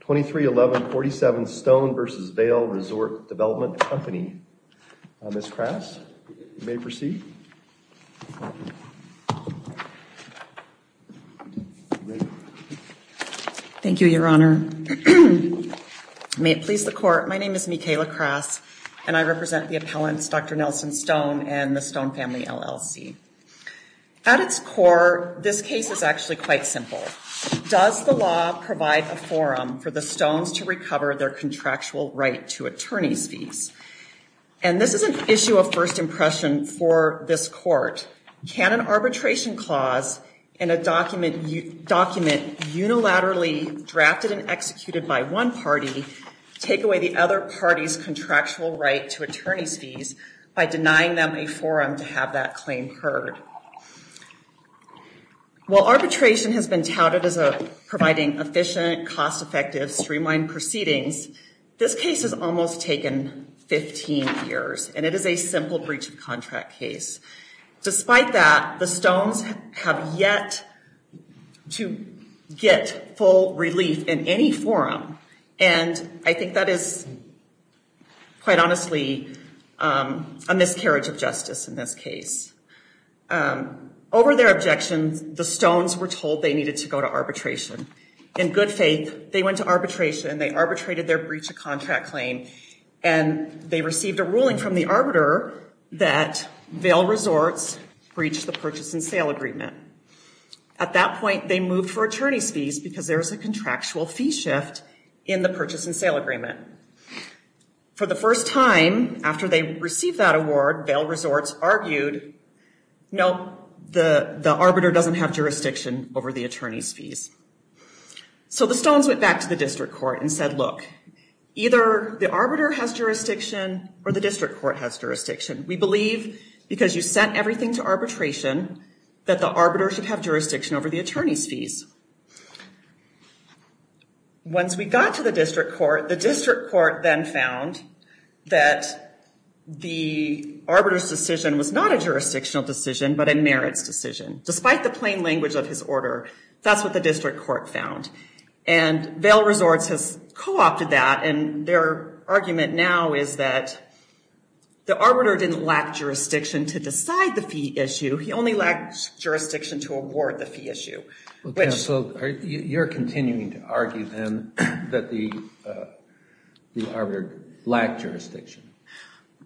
2311 47 Stone v. Vail Resort Development Company. Ms. Krass, you may proceed. Thank you, Your Honor. May it please the Court, my name is Mikayla Krass and I represent the appellants Dr. Nelson Stone and the Stone family LLC. At its core, this case is actually quite simple. Does the law provide a forum for the Stones to recover their contractual right to attorney's fees? And this is an issue of first impression for this Court. Can an arbitration clause in a document unilaterally drafted and executed by one party take away the other party's contractual right to attorney's fees by denying them a forum to have that claim heard? While arbitration has been touted as providing efficient, cost-effective, streamlined proceedings, this case has almost taken 15 years and it is a simple breach of contract case. Despite that, the Stones have yet to get full relief in any forum and I think that is, quite honestly, a miscarriage of justice in this case. Over their objections, the Stones were told they needed to go to arbitration. In good faith, they went to arbitration, they arbitrated their breach of contract claim and they received a ruling from the arbiter that Vail Resorts breached the purchase and sale agreement. At that point, they moved for attorney's fees because there was a contractual fee shift in the purchase and sale agreement. For the first time after they received that award, Vail Resorts argued, no, the arbiter doesn't have jurisdiction over the attorney's fees. So the Stones went back to the district court and said, look, either the arbiter has jurisdiction or the district court has jurisdiction. We believe because you sent everything to arbitration that the arbiter should have jurisdiction over the attorney's fees. Once we got to the district court, the district court then found that the arbiter's decision was not a jurisdictional decision but a merits decision. Despite the plain language of his order, that's what the district court found. And Vail Resorts has co-opted that and their argument now is that the arbiter didn't lack jurisdiction to decide the fee issue. He only lacked jurisdiction to award the fee issue. So you're continuing to argue then that the arbiter lacked jurisdiction?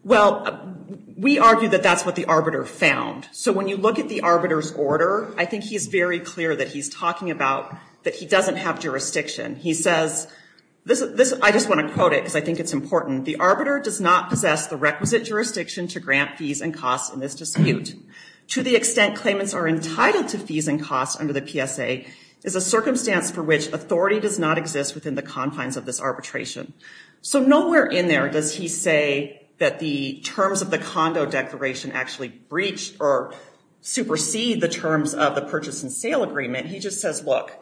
Well, we argue that that's what the arbiter found. So when you look at the arbiter's order, I think he's very clear that he's talking about that he doesn't have jurisdiction. He says, I just want to quote it because I think it's important. The arbiter does not possess the requisite jurisdiction to grant fees and costs in this dispute. To the extent claimants are entitled to fees and costs under the PSA is a circumstance for which authority does not exist within the confines of this arbitration. So nowhere in there does he say that the terms of the condo declaration actually breach or supersede the terms of the purchase and sale agreement. He just says, look,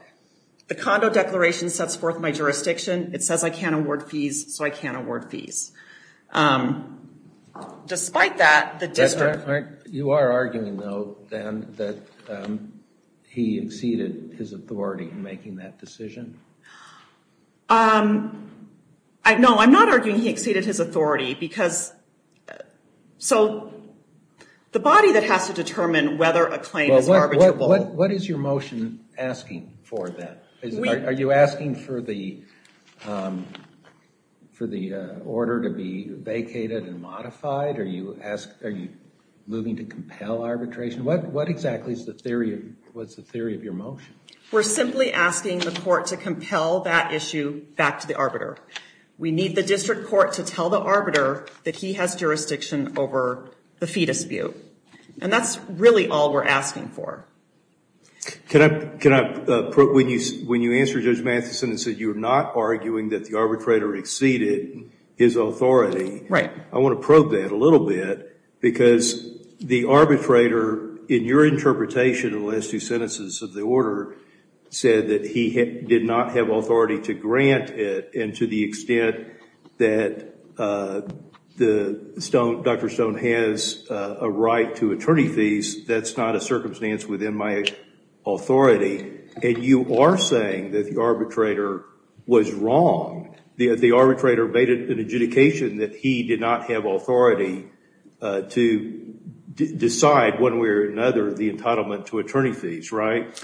the condo declaration sets forth my jurisdiction. It says I can't award fees, so I can't award fees. Despite that, the district court... No, I'm not arguing he exceeded his authority. So the body that has to determine whether a claim is arbitrable... What is your motion asking for then? Are you asking for the order to be vacated and modified? Are you moving to compel arbitration? What exactly is the theory of your motion? We're simply asking the court to compel that issue back to the arbiter. We need the district court to tell the arbiter that he has jurisdiction over the fee dispute. And that's really all we're asking for. Can I... When you answer Judge Matheson and said you're not arguing that the arbitrator exceeded his authority... Right. I want to probe that a little bit because the arbitrator, in your interpretation in the last two sentences of the order, said that he did not have authority to grant it and to the extent that Dr. Stone has a right to attorney fees, that's not a circumstance within my authority. And you are saying that the arbitrator was wrong. The arbitrator made an adjudication that he did not have authority to decide one way or another the entitlement to attorney fees, right?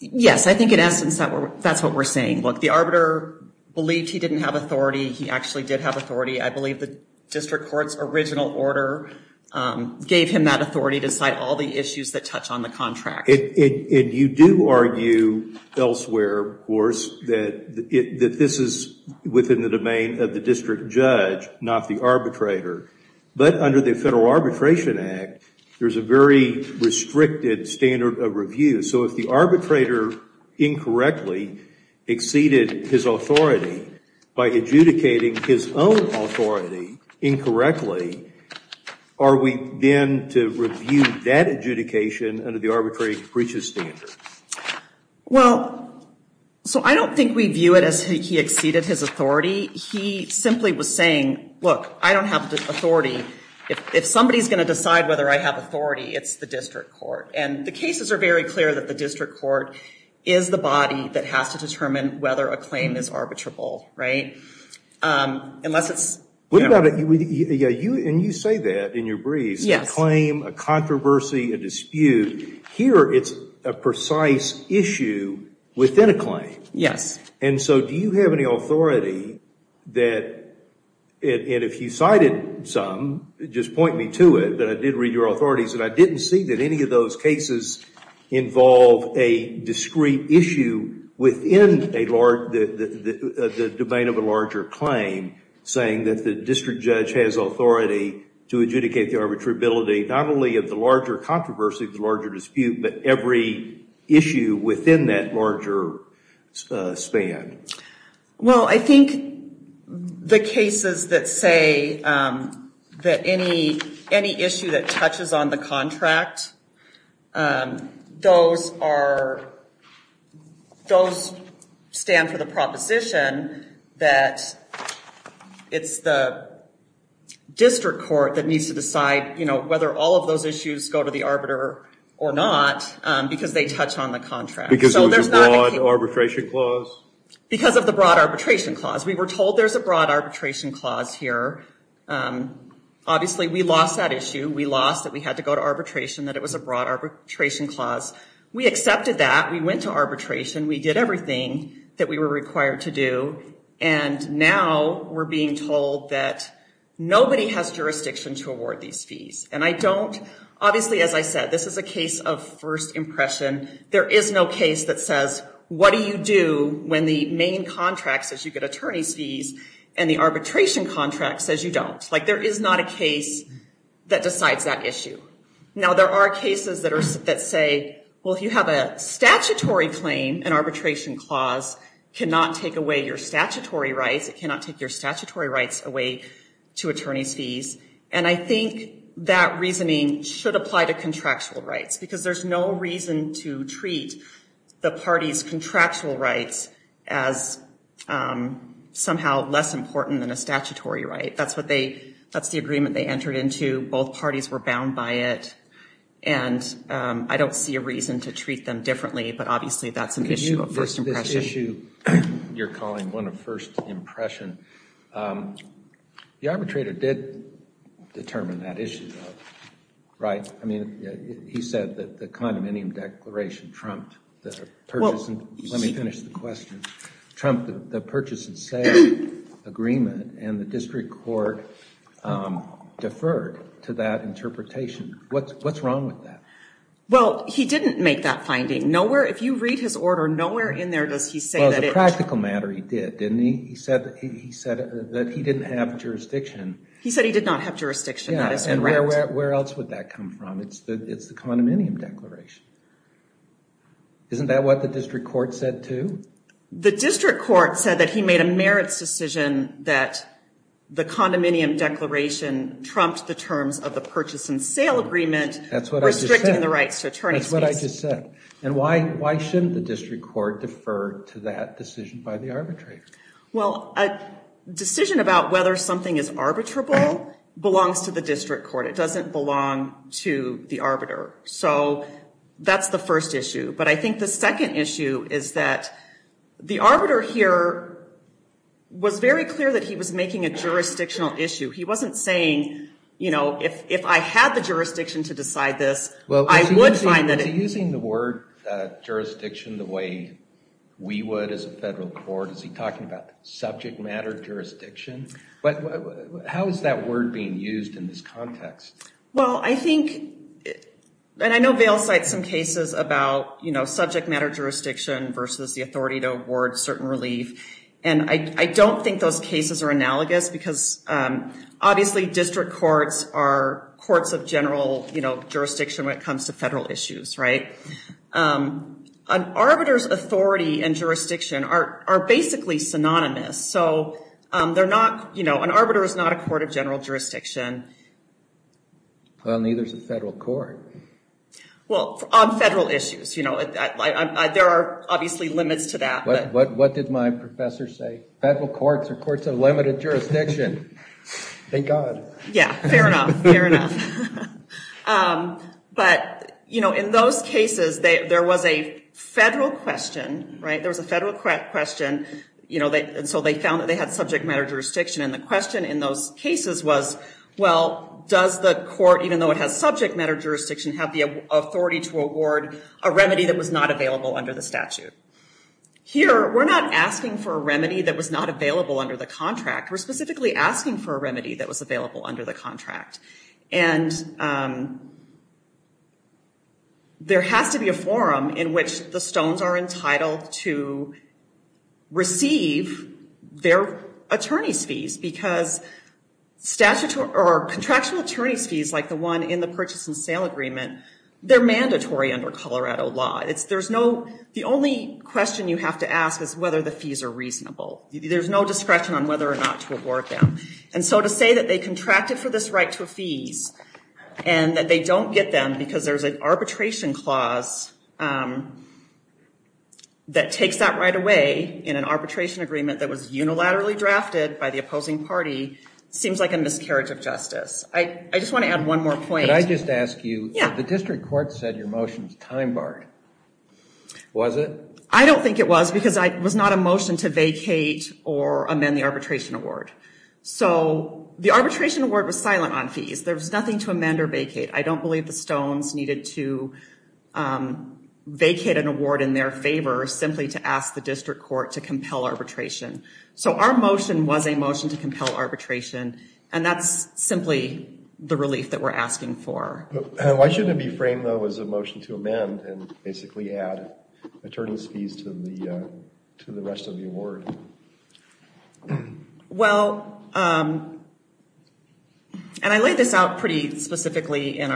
Yes, I think in essence that's what we're saying. Look, the arbiter believed he didn't have authority. He actually did have authority. I believe the district court's original order gave him that authority to cite all the issues that touch on the contract. And you do argue elsewhere, of course, that this is within the domain of the district judge, not the arbitrator. But under the Federal Arbitration Act, there's a very restricted standard of review. So if the arbitrator incorrectly exceeded his authority by adjudicating his own authority incorrectly, are we then to review that adjudication under the arbitrary breaches standard? Well, so I don't think we view it as he exceeded his authority. He simply was saying, look, I don't have authority. If somebody's going to decide whether I have authority, it's the district court. And the cases are very clear that the district court is the body that has to determine whether a claim is arbitrable, right? And you say that in your briefs, a claim, a controversy, a dispute. Here it's a precise issue within a claim. Yes. And so do you have any authority that, and if you cited some, just point me to it, that I did read your authorities and I didn't see that any of those cases involve a discrete issue within the domain of a larger claim. Saying that the district judge has authority to adjudicate the arbitrability not only of the larger controversy, the larger dispute, but every issue within that larger span. Well, I think the cases that say that any issue that touches on the contract, those are, those stand for the proposition that it's the district court that needs to decide, you know, whether all of those issues go to the arbiter or not because they touch on the contract. Because it was a broad arbitration clause? Because of the broad arbitration clause. We were told there's a broad arbitration clause here. Obviously, we lost that issue. We lost that we had to go to arbitration, that it was a broad arbitration clause. We accepted that. We went to arbitration. We did everything that we were required to do. And now we're being told that nobody has jurisdiction to award these fees. And I don't, obviously, as I said, this is a case of first impression. There is no case that says what do you do when the main contract says you get attorney's fees and the arbitration contract says you don't. Like, there is not a case that decides that issue. Now, there are cases that say, well, if you have a statutory claim, an arbitration clause cannot take away your statutory rights. It cannot take your statutory rights away to attorney's fees. And I think that reasoning should apply to contractual rights because there's no reason to treat the party's contractual rights as somehow less important than a statutory right. That's what they, that's the agreement they entered into. Both parties were bound by it. And I don't see a reason to treat them differently. But, obviously, that's an issue of first impression. This issue you're calling one of first impression, the arbitrator did determine that issue, right? I mean, he said that the condominium declaration trumped the purchase. Let me finish the question. Trump, the purchase and sale agreement and the district court deferred to that interpretation. What's wrong with that? Well, he didn't make that finding. Nowhere, if you read his order, nowhere in there does he say that it. Well, the practical matter he did, didn't he? He said that he didn't have jurisdiction. He said he did not have jurisdiction. That is correct. Yeah, and where else would that come from? It's the condominium declaration. Isn't that what the district court said, too? The district court said that he made a merits decision that the condominium declaration trumped the terms of the purchase and sale agreement. That's what I just said. Restricting the rights to attorney's fees. That's what I just said. And why shouldn't the district court defer to that decision by the arbitrator? Well, a decision about whether something is arbitrable belongs to the district court. It doesn't belong to the arbiter. So that's the first issue. But I think the second issue is that the arbiter here was very clear that he was making a jurisdictional issue. He wasn't saying, you know, if I had the jurisdiction to decide this, I would find that it. Well, is he using the word jurisdiction the way we would as a federal court? Is he talking about subject matter jurisdiction? How is that word being used in this context? Well, I think, and I know Vail cites some cases about, you know, subject matter jurisdiction versus the authority to award certain relief. And I don't think those cases are analogous because obviously district courts are courts of general, you know, jurisdiction when it comes to federal issues, right? An arbiter's authority and jurisdiction are basically synonymous. So they're not, you know, an arbiter is not a court of general jurisdiction. Well, neither is a federal court. Well, on federal issues, you know, there are obviously limits to that. What did my professor say? Federal courts are courts of limited jurisdiction. Thank God. Yeah, fair enough, fair enough. But, you know, in those cases, there was a federal question, right? Well, they found that they had subject matter jurisdiction. And the question in those cases was, well, does the court, even though it has subject matter jurisdiction, have the authority to award a remedy that was not available under the statute? Here, we're not asking for a remedy that was not available under the contract. We're specifically asking for a remedy that was available under the contract. And there has to be a forum in which the stones are entitled to receive their attorney's fees. Because contractual attorney's fees, like the one in the purchase and sale agreement, they're mandatory under Colorado law. The only question you have to ask is whether the fees are reasonable. There's no discretion on whether or not to award them. And so to say that they contracted for this right to a fees and that they don't get them because there's an arbitration clause that takes that right away in an arbitration agreement that was unilaterally drafted by the opposing party seems like a miscarriage of justice. I just want to add one more point. Could I just ask you? Yeah. The district court said your motion was time barred. Was it? I don't think it was because it was not a motion to vacate or amend the arbitration award. So the arbitration award was silent on fees. There was nothing to amend or vacate. I don't believe the stones needed to vacate an award in their favor simply to ask the district court to compel arbitration. So our motion was a motion to compel arbitration. And that's simply the relief that we're asking for. Why shouldn't it be framed, though, as a motion to amend and basically add attorneys' fees to the rest of the award? Well, and I laid this out pretty specifically in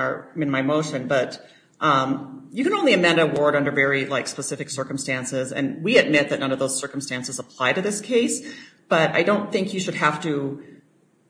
my motion. But you can only amend an award under very specific circumstances. And we admit that none of those circumstances apply to this case. But I don't think you should have to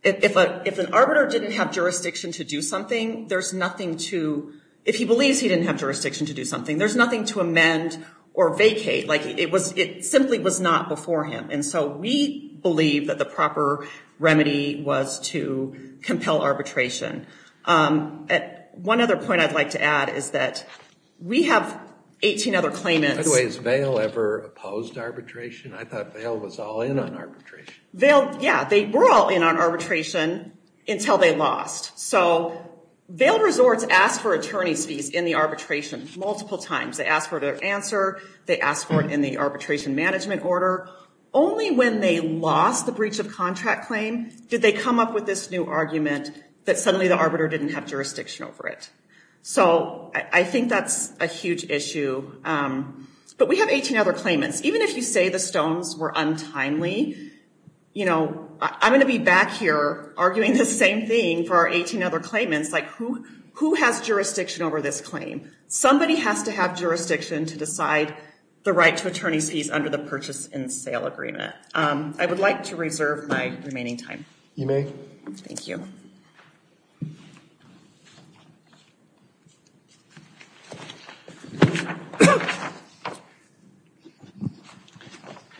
‑‑ if an arbiter didn't have jurisdiction to do something, there's nothing to ‑‑ if he believes he didn't have jurisdiction to do something, there's nothing to amend or vacate. It simply was not before him. And so we believe that the proper remedy was to compel arbitration. One other point I'd like to add is that we have 18 other claimants. By the way, has Vail ever opposed arbitration? I thought Vail was all in on arbitration. Vail, yeah, they were all in on arbitration until they lost. So Vail Resorts asked for attorneys' fees in the arbitration multiple times. They asked for their answer. They asked for it in the arbitration management order. Only when they lost the breach of contract claim did they come up with this new argument that suddenly the arbiter didn't have jurisdiction over it. So I think that's a huge issue. But we have 18 other claimants. Even if you say the stones were untimely, you know, I'm going to be back here arguing the same thing for our 18 other claimants. Like, who has jurisdiction over this claim? Somebody has to have jurisdiction to decide the right to attorney's fees under the purchase and sale agreement. I would like to reserve my remaining time. You may. Thank you.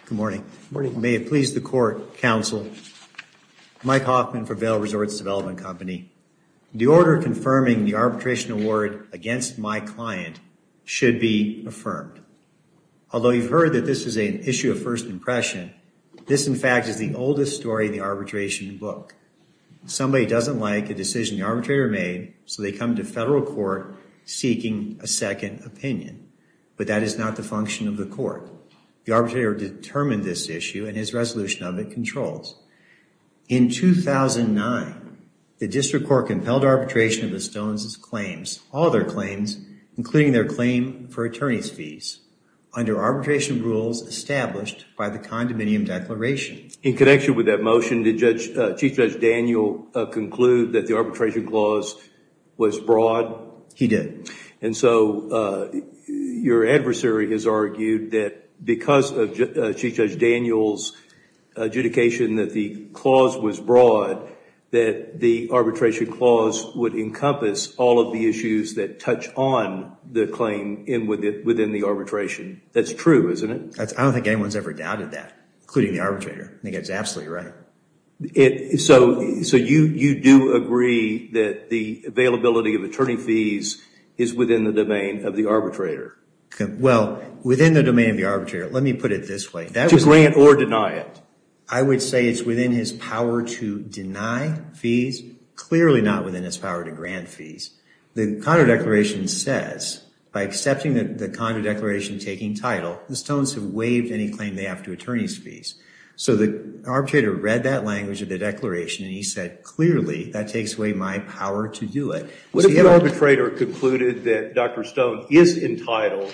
Good morning. May it please the court, counsel. Mike Hoffman for Vail Resorts Development Company. The order confirming the arbitration award against my client should be affirmed. Although you've heard that this is an issue of first impression, this, in fact, is the oldest story in the arbitration book. Somebody doesn't like a decision the arbitrator made, so they come to federal court seeking a second opinion. But that is not the function of the court. The arbitrator determined this issue, and his resolution of it controls. In 2009, the district court compelled arbitration of the stones' claims, all their claims, including their claim for attorney's fees, under arbitration rules established by the condominium declaration. In connection with that motion, did Chief Judge Daniel conclude that the arbitration clause was broad? He did. And so your adversary has argued that because of Chief Judge Daniel's adjudication that the clause was broad, that the arbitration clause would encompass all of the issues that touch on the claim within the arbitration. That's true, isn't it? I don't think anyone's ever doubted that, including the arbitrator. I think that's absolutely right. So you do agree that the availability of attorney fees is within the domain of the arbitrator? Well, within the domain of the arbitrator, let me put it this way. To grant or deny it? I would say it's within his power to deny fees, clearly not within his power to grant fees. The condo declaration says, by accepting the condo declaration taking title, the stones have waived any claim they have to attorney's fees. So the arbitrator read that language of the declaration and he said, clearly, that takes away my power to do it. What if the arbitrator concluded that Dr. Stone is entitled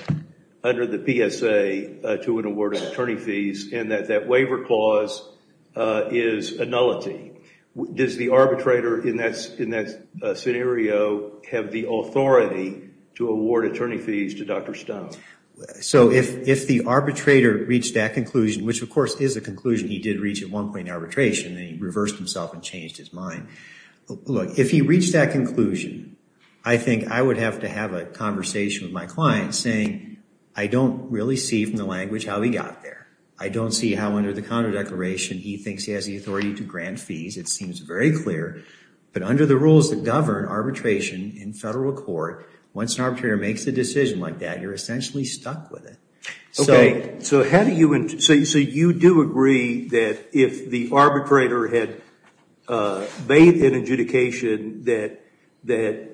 under the PSA to an award of attorney fees and that that waiver clause is a nullity? Does the arbitrator in that scenario have the authority to award attorney fees to Dr. Stone? So if the arbitrator reached that conclusion, which of course is a conclusion he did reach at one point in arbitration, and he reversed himself and changed his mind, look, if he reached that conclusion, I think I would have to have a conversation with my client saying, I don't really see from the language how he got there. I don't see how under the condo declaration he thinks he has the authority to grant fees. It seems very clear. But under the rules that govern arbitration in federal court, once an arbitrator makes a decision like that, you're essentially stuck with it. So you do agree that if the arbitrator had made an adjudication that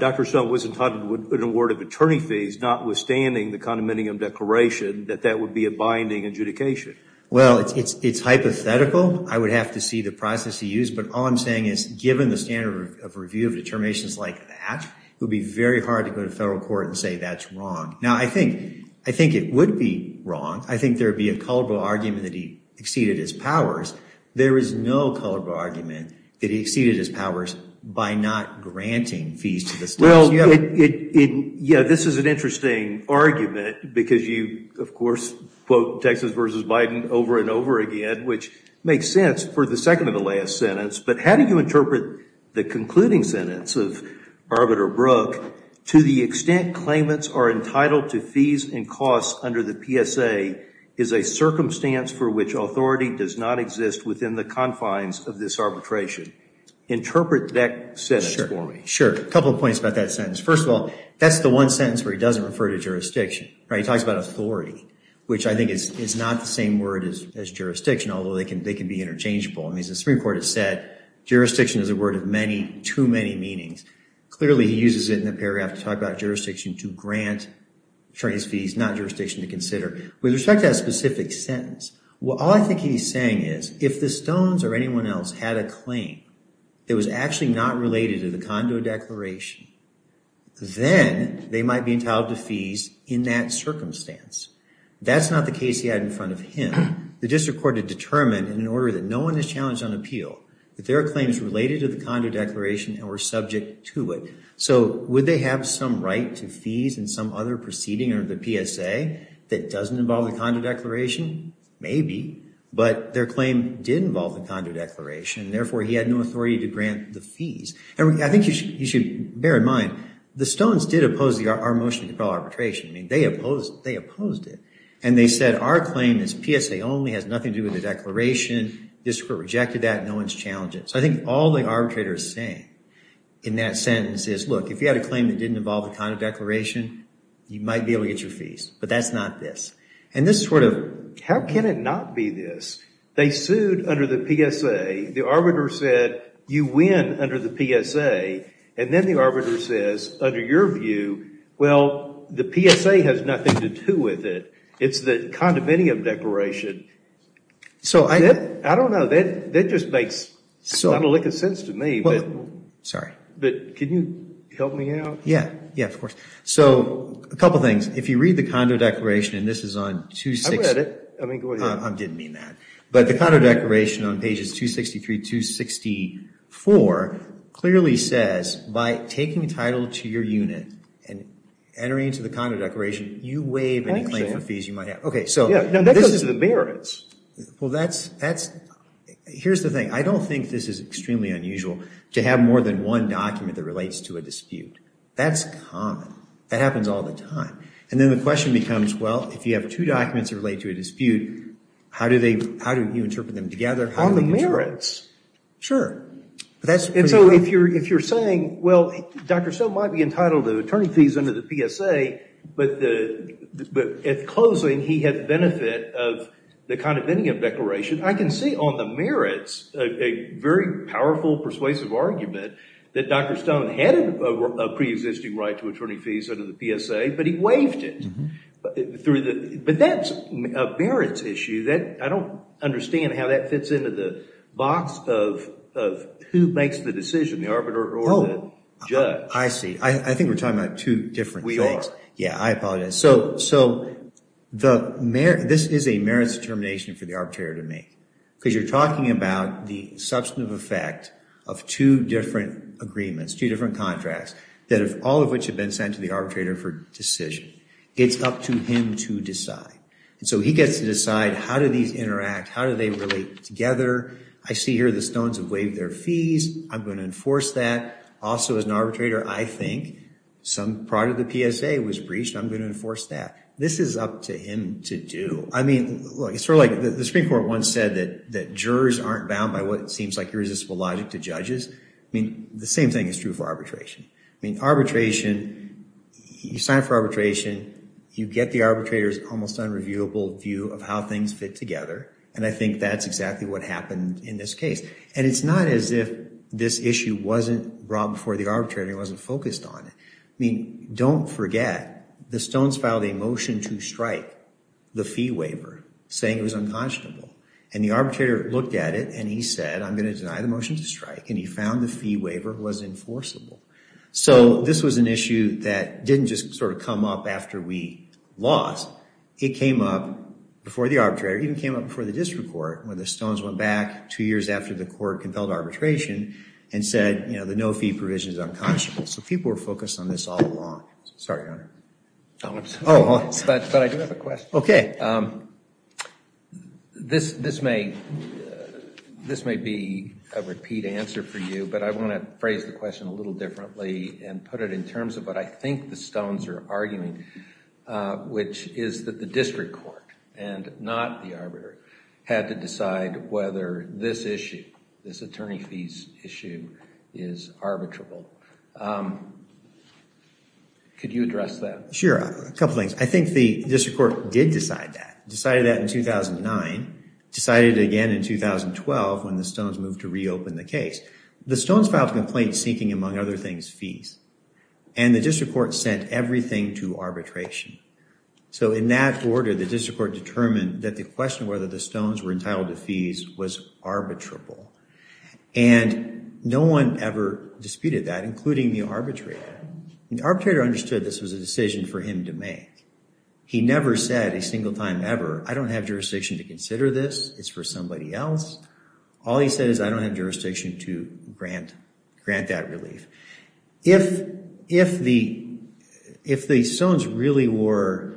Dr. Stone was entitled to an award of attorney fees, notwithstanding the condominium declaration, that that would be a binding adjudication? Well, it's hypothetical. I would have to see the process he used. But all I'm saying is given the standard of review of determinations like that, it would be very hard to go to federal court and say that's wrong. Now, I think it would be wrong. I think there would be a culpable argument that he exceeded his powers. There is no culpable argument that he exceeded his powers by not granting fees to the stones. Well, yeah, this is an interesting argument because you, of course, quote Texas versus Biden over and over again, which makes sense for the second to the last sentence. But how do you interpret the concluding sentence of Arbiter Brook, to the extent claimants are entitled to fees and costs under the PSA is a circumstance for which authority does not exist within the confines of this arbitration? Interpret that sentence for me. Sure. A couple of points about that sentence. First of all, that's the one sentence where he doesn't refer to jurisdiction. He talks about authority, which I think is not the same word as jurisdiction, although they can be interchangeable. As the Supreme Court has said, jurisdiction is a word of many, too many meanings. Clearly, he uses it in the paragraph to talk about jurisdiction to grant attorneys fees, not jurisdiction to consider. With respect to that specific sentence, all I think he's saying is if the stones or anyone else had a claim that was actually not related to the condo declaration, then they might be entitled to fees in that circumstance. That's not the case he had in front of him. The district court had determined in order that no one is challenged on appeal, that there are claims related to the condo declaration and were subject to it. So would they have some right to fees and some other proceeding under the PSA that doesn't involve the condo declaration? Maybe. But their claim did involve the condo declaration. Therefore, he had no authority to grant the fees. I think you should bear in mind, the stones did oppose our motion to compel arbitration. I mean, they opposed it. And they said our claim is PSA only, has nothing to do with the declaration. The district court rejected that. No one's challenged it. So I think all the arbitrator is saying in that sentence is, look, if you had a claim that didn't involve the condo declaration, you might be able to get your fees. But that's not this. And this is sort of, how can it not be this? They sued under the PSA. The arbitrator said, you win under the PSA. And then the arbitrator says, under your view, well, the PSA has nothing to do with it. It's the condominium declaration. I don't know. That just makes not a lick of sense to me. Sorry. But can you help me out? Yeah. Yeah, of course. So a couple things. If you read the condo declaration, and this is on 260. I read it. I didn't mean that. But the condo declaration on pages 263 to 264 clearly says, by taking title to your unit and entering into the condo declaration, you waive any claim for fees you might have. Okay, so this is the merits. Well, that's, here's the thing. I don't think this is extremely unusual to have more than one document that relates to a dispute. That's common. That happens all the time. And then the question becomes, well, if you have two documents that relate to a dispute, how do you interpret them together? On the merits. Sure. And so if you're saying, well, Dr. Stone might be entitled to attorney fees under the PSA, but at closing he had the benefit of the condominium declaration, I can see on the merits a very powerful persuasive argument that Dr. Stone had a preexisting right to attorney fees under the PSA, but he waived it. But that's a merits issue. I don't understand how that fits into the box of who makes the decision, the arbiter or the judge. I see. I think we're talking about two different things. We are. Yeah, I apologize. So this is a merits determination for the arbitrator to make, because you're talking about the substantive effect of two different agreements, two different contracts, all of which have been sent to the arbitrator for decision. It's up to him to decide. And so he gets to decide how do these interact, how do they relate together. I see here the Stones have waived their fees. I'm going to enforce that. Also, as an arbitrator, I think some part of the PSA was breached. I'm going to enforce that. This is up to him to do. I mean, sort of like the Supreme Court once said that jurors aren't bound by what seems like irresistible logic to judges. I mean, the same thing is true for arbitration. I mean, arbitration, you sign for arbitration, you get the arbitrator's almost unreviewable view of how things fit together. And I think that's exactly what happened in this case. And it's not as if this issue wasn't brought before the arbitrator and he wasn't focused on it. I mean, don't forget, the Stones filed a motion to strike the fee waiver, saying it was unconscionable. And the arbitrator looked at it and he said, I'm going to deny the motion to strike. And he found the fee waiver was enforceable. So this was an issue that didn't just sort of come up after we lost. It came up before the arbitrator. It even came up before the district court when the Stones went back two years after the court compelled arbitration and said, you know, the no-fee provision is unconscionable. So people were focused on this all along. Sorry, Your Honor. But I do have a question. Okay. This may be a repeat answer for you, but I want to phrase the question a little differently and put it in terms of what I think the Stones are arguing, which is that the district court and not the arbiter had to decide whether this issue, this attorney fees issue, is arbitrable. Could you address that? Sure, a couple things. I think the district court did decide that. Decided that in 2009. Decided it again in 2012 when the Stones moved to reopen the case. The Stones filed a complaint seeking, among other things, fees. And the district court sent everything to arbitration. So in that order, the district court determined that the question whether the Stones were entitled to fees was arbitrable. And no one ever disputed that, including the arbitrator. The arbitrator understood this was a decision for him to make. He never said a single time ever, I don't have jurisdiction to consider this. It's for somebody else. All he said is I don't have jurisdiction to grant that relief. If the Stones really were,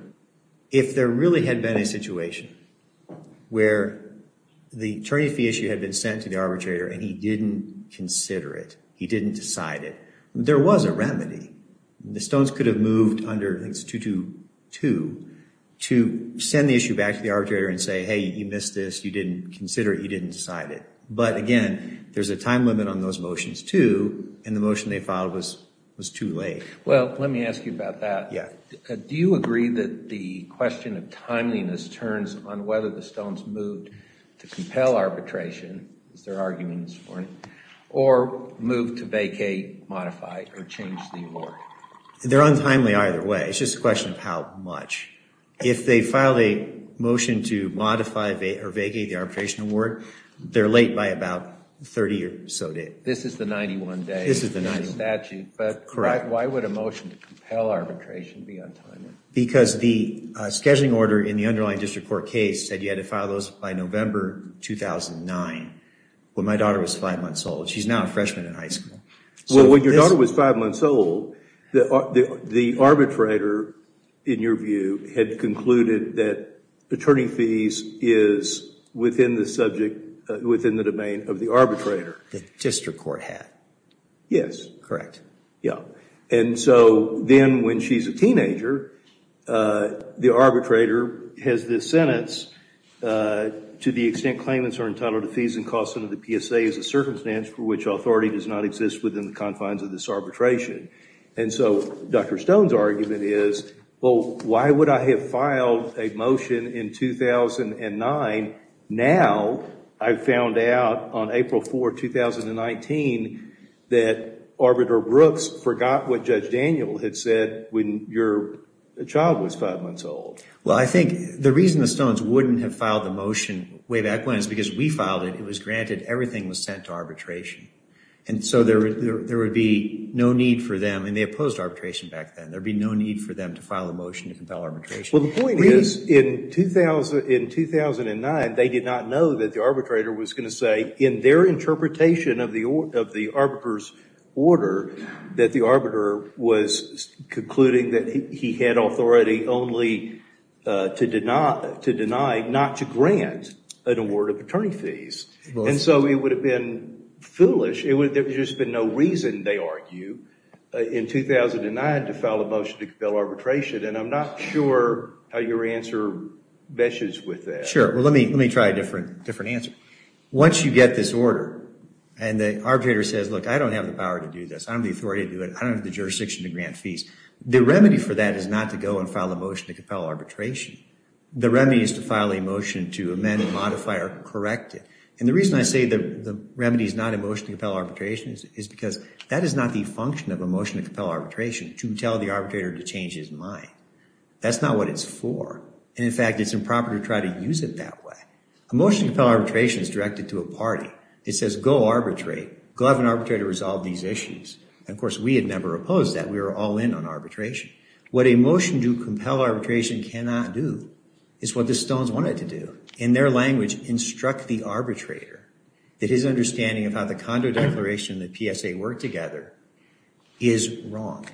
if there really had been a situation where the attorney fee issue had been sent to the arbitrator and he didn't consider it, he didn't decide it, there was a remedy. The Stones could have moved under, I think it's 222, to send the issue back to the arbitrator and say, hey, you missed this, you didn't consider it, you didn't decide it. But again, there's a time limit on those motions too, and the motion they filed was too late. Well, let me ask you about that. Do you agree that the question of timeliness turns on whether the Stones moved to compel arbitration, or move to vacate, modify, or change the award? They're untimely either way. It's just a question of how much. If they filed a motion to modify or vacate the arbitration award, they're late by about 30 or so days. This is the 91 day statute. But why would a motion to compel arbitration be untimely? Because the scheduling order in the underlying district court case said you had to file those by November 2009, when my daughter was five months old. She's now a freshman in high school. Well, when your daughter was five months old, the arbitrator, in your view, had concluded that attorney fees is within the subject, within the domain of the arbitrator. The district court had. Yes. Correct. Yeah. And so then when she's a teenager, the arbitrator has this sentence, to the extent claimants are entitled to fees and costs under the PSA is a circumstance for which authority does not exist within the confines of this arbitration. And so Dr. Stone's argument is, well, why would I have filed a motion in 2009 now I've found out on April 4, 2019 that Arbiter Brooks forgot what Judge Daniel had said when your child was five months old. Well, I think the reason the Stones wouldn't have filed the motion way back when is because we filed it. It was granted. Everything was sent to arbitration. And so there would be no need for them. And they opposed arbitration back then. There'd be no need for them to file a motion to compel arbitration. Well, the point is in 2009, they did not know that the arbitrator was going to say in their interpretation of the arbiters order, that the arbiter was concluding that he had authority only to deny, not to grant an award of attorney fees. And so it would have been foolish. There would have just been no reason, they argue, in 2009 to file a motion to compel arbitration. And I'm not sure how your answer meshes with that. Sure. Well, let me try a different answer. Once you get this order and the arbitrator says, look, I don't have the power to do this. I don't have the authority to do it. I don't have the jurisdiction to grant fees. The remedy for that is not to go and file a motion to compel arbitration. The remedy is to file a motion to amend and modify or correct it. And the reason I say the remedy is not a motion to compel arbitration is because that is not the function of a motion to compel arbitration, to tell the arbitrator to change his mind. That's not what it's for. And, in fact, it's improper to try to use it that way. A motion to compel arbitration is directed to a party. It says, go arbitrate. Go have an arbitrator resolve these issues. And, of course, we had never opposed that. We were all in on arbitration. What a motion to compel arbitration cannot do is what the Stones wanted to do. In their language, instruct the arbitrator that his understanding of how the Condo Declaration and the PSA work together is wrong.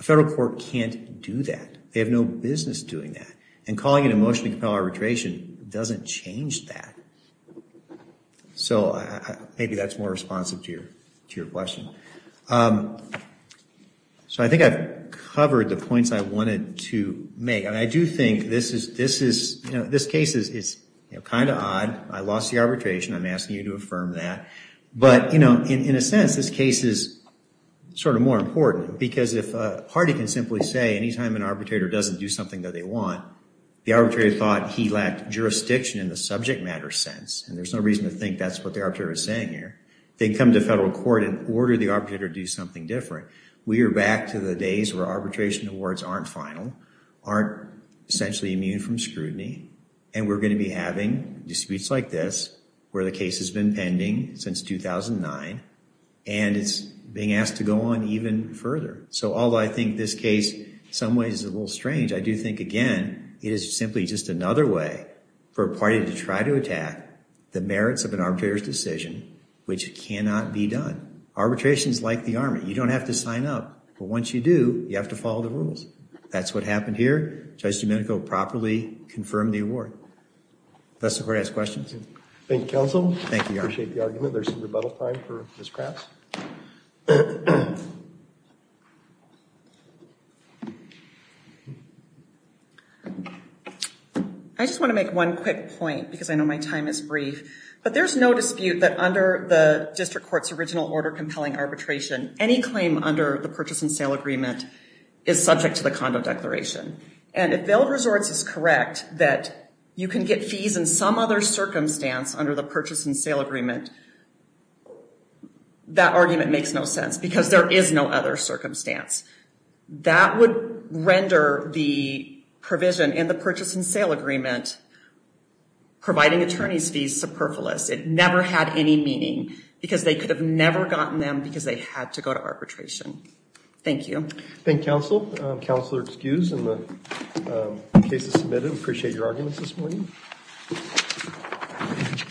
A federal court can't do that. They have no business doing that. And calling it a motion to compel arbitration doesn't change that. So maybe that's more responsive to your question. So I think I've covered the points I wanted to make. And I do think this case is kind of odd. I lost the arbitration. I'm asking you to affirm that. But, you know, in a sense, this case is sort of more important because if a federal arbitrator doesn't do something that they want, the arbitrator thought he lacked jurisdiction in the subject matter sense. And there's no reason to think that's what the arbitrator is saying here. They can come to federal court and order the arbitrator to do something different. We are back to the days where arbitration awards aren't final, aren't essentially immune from scrutiny. And we're going to be having disputes like this, where the case has been pending since 2009. And it's being asked to go on even further. So although I think this case, in some ways, is a little strange, I do think, again, it is simply just another way for a party to try to attack the merits of an arbitrator's decision, which cannot be done. Arbitration is like the Army. You don't have to sign up. But once you do, you have to follow the rules. That's what happened here. Judge Domenico properly confirmed the award. Professor, do you want to ask questions? Thank you, counsel. Thank you, Your Honor. I appreciate the argument. Is there some rebuttal time for Ms. Crafts? I just want to make one quick point, because I know my time is brief. But there's no dispute that under the district court's original order compelling arbitration, any claim under the purchase and sale agreement is subject to the condo declaration. And if Vail Resorts is correct that you can get fees in some other circumstance under the purchase and sale agreement, that argument makes no sense, because there is no other circumstance. That would render the provision in the purchase and sale agreement providing attorney's fees superfluous. It never had any meaning, because they could have never gotten them because they had to go to arbitration. Thank you. Thank you, counsel. Counselor, excused, and the case is submitted. We appreciate your arguments this morning.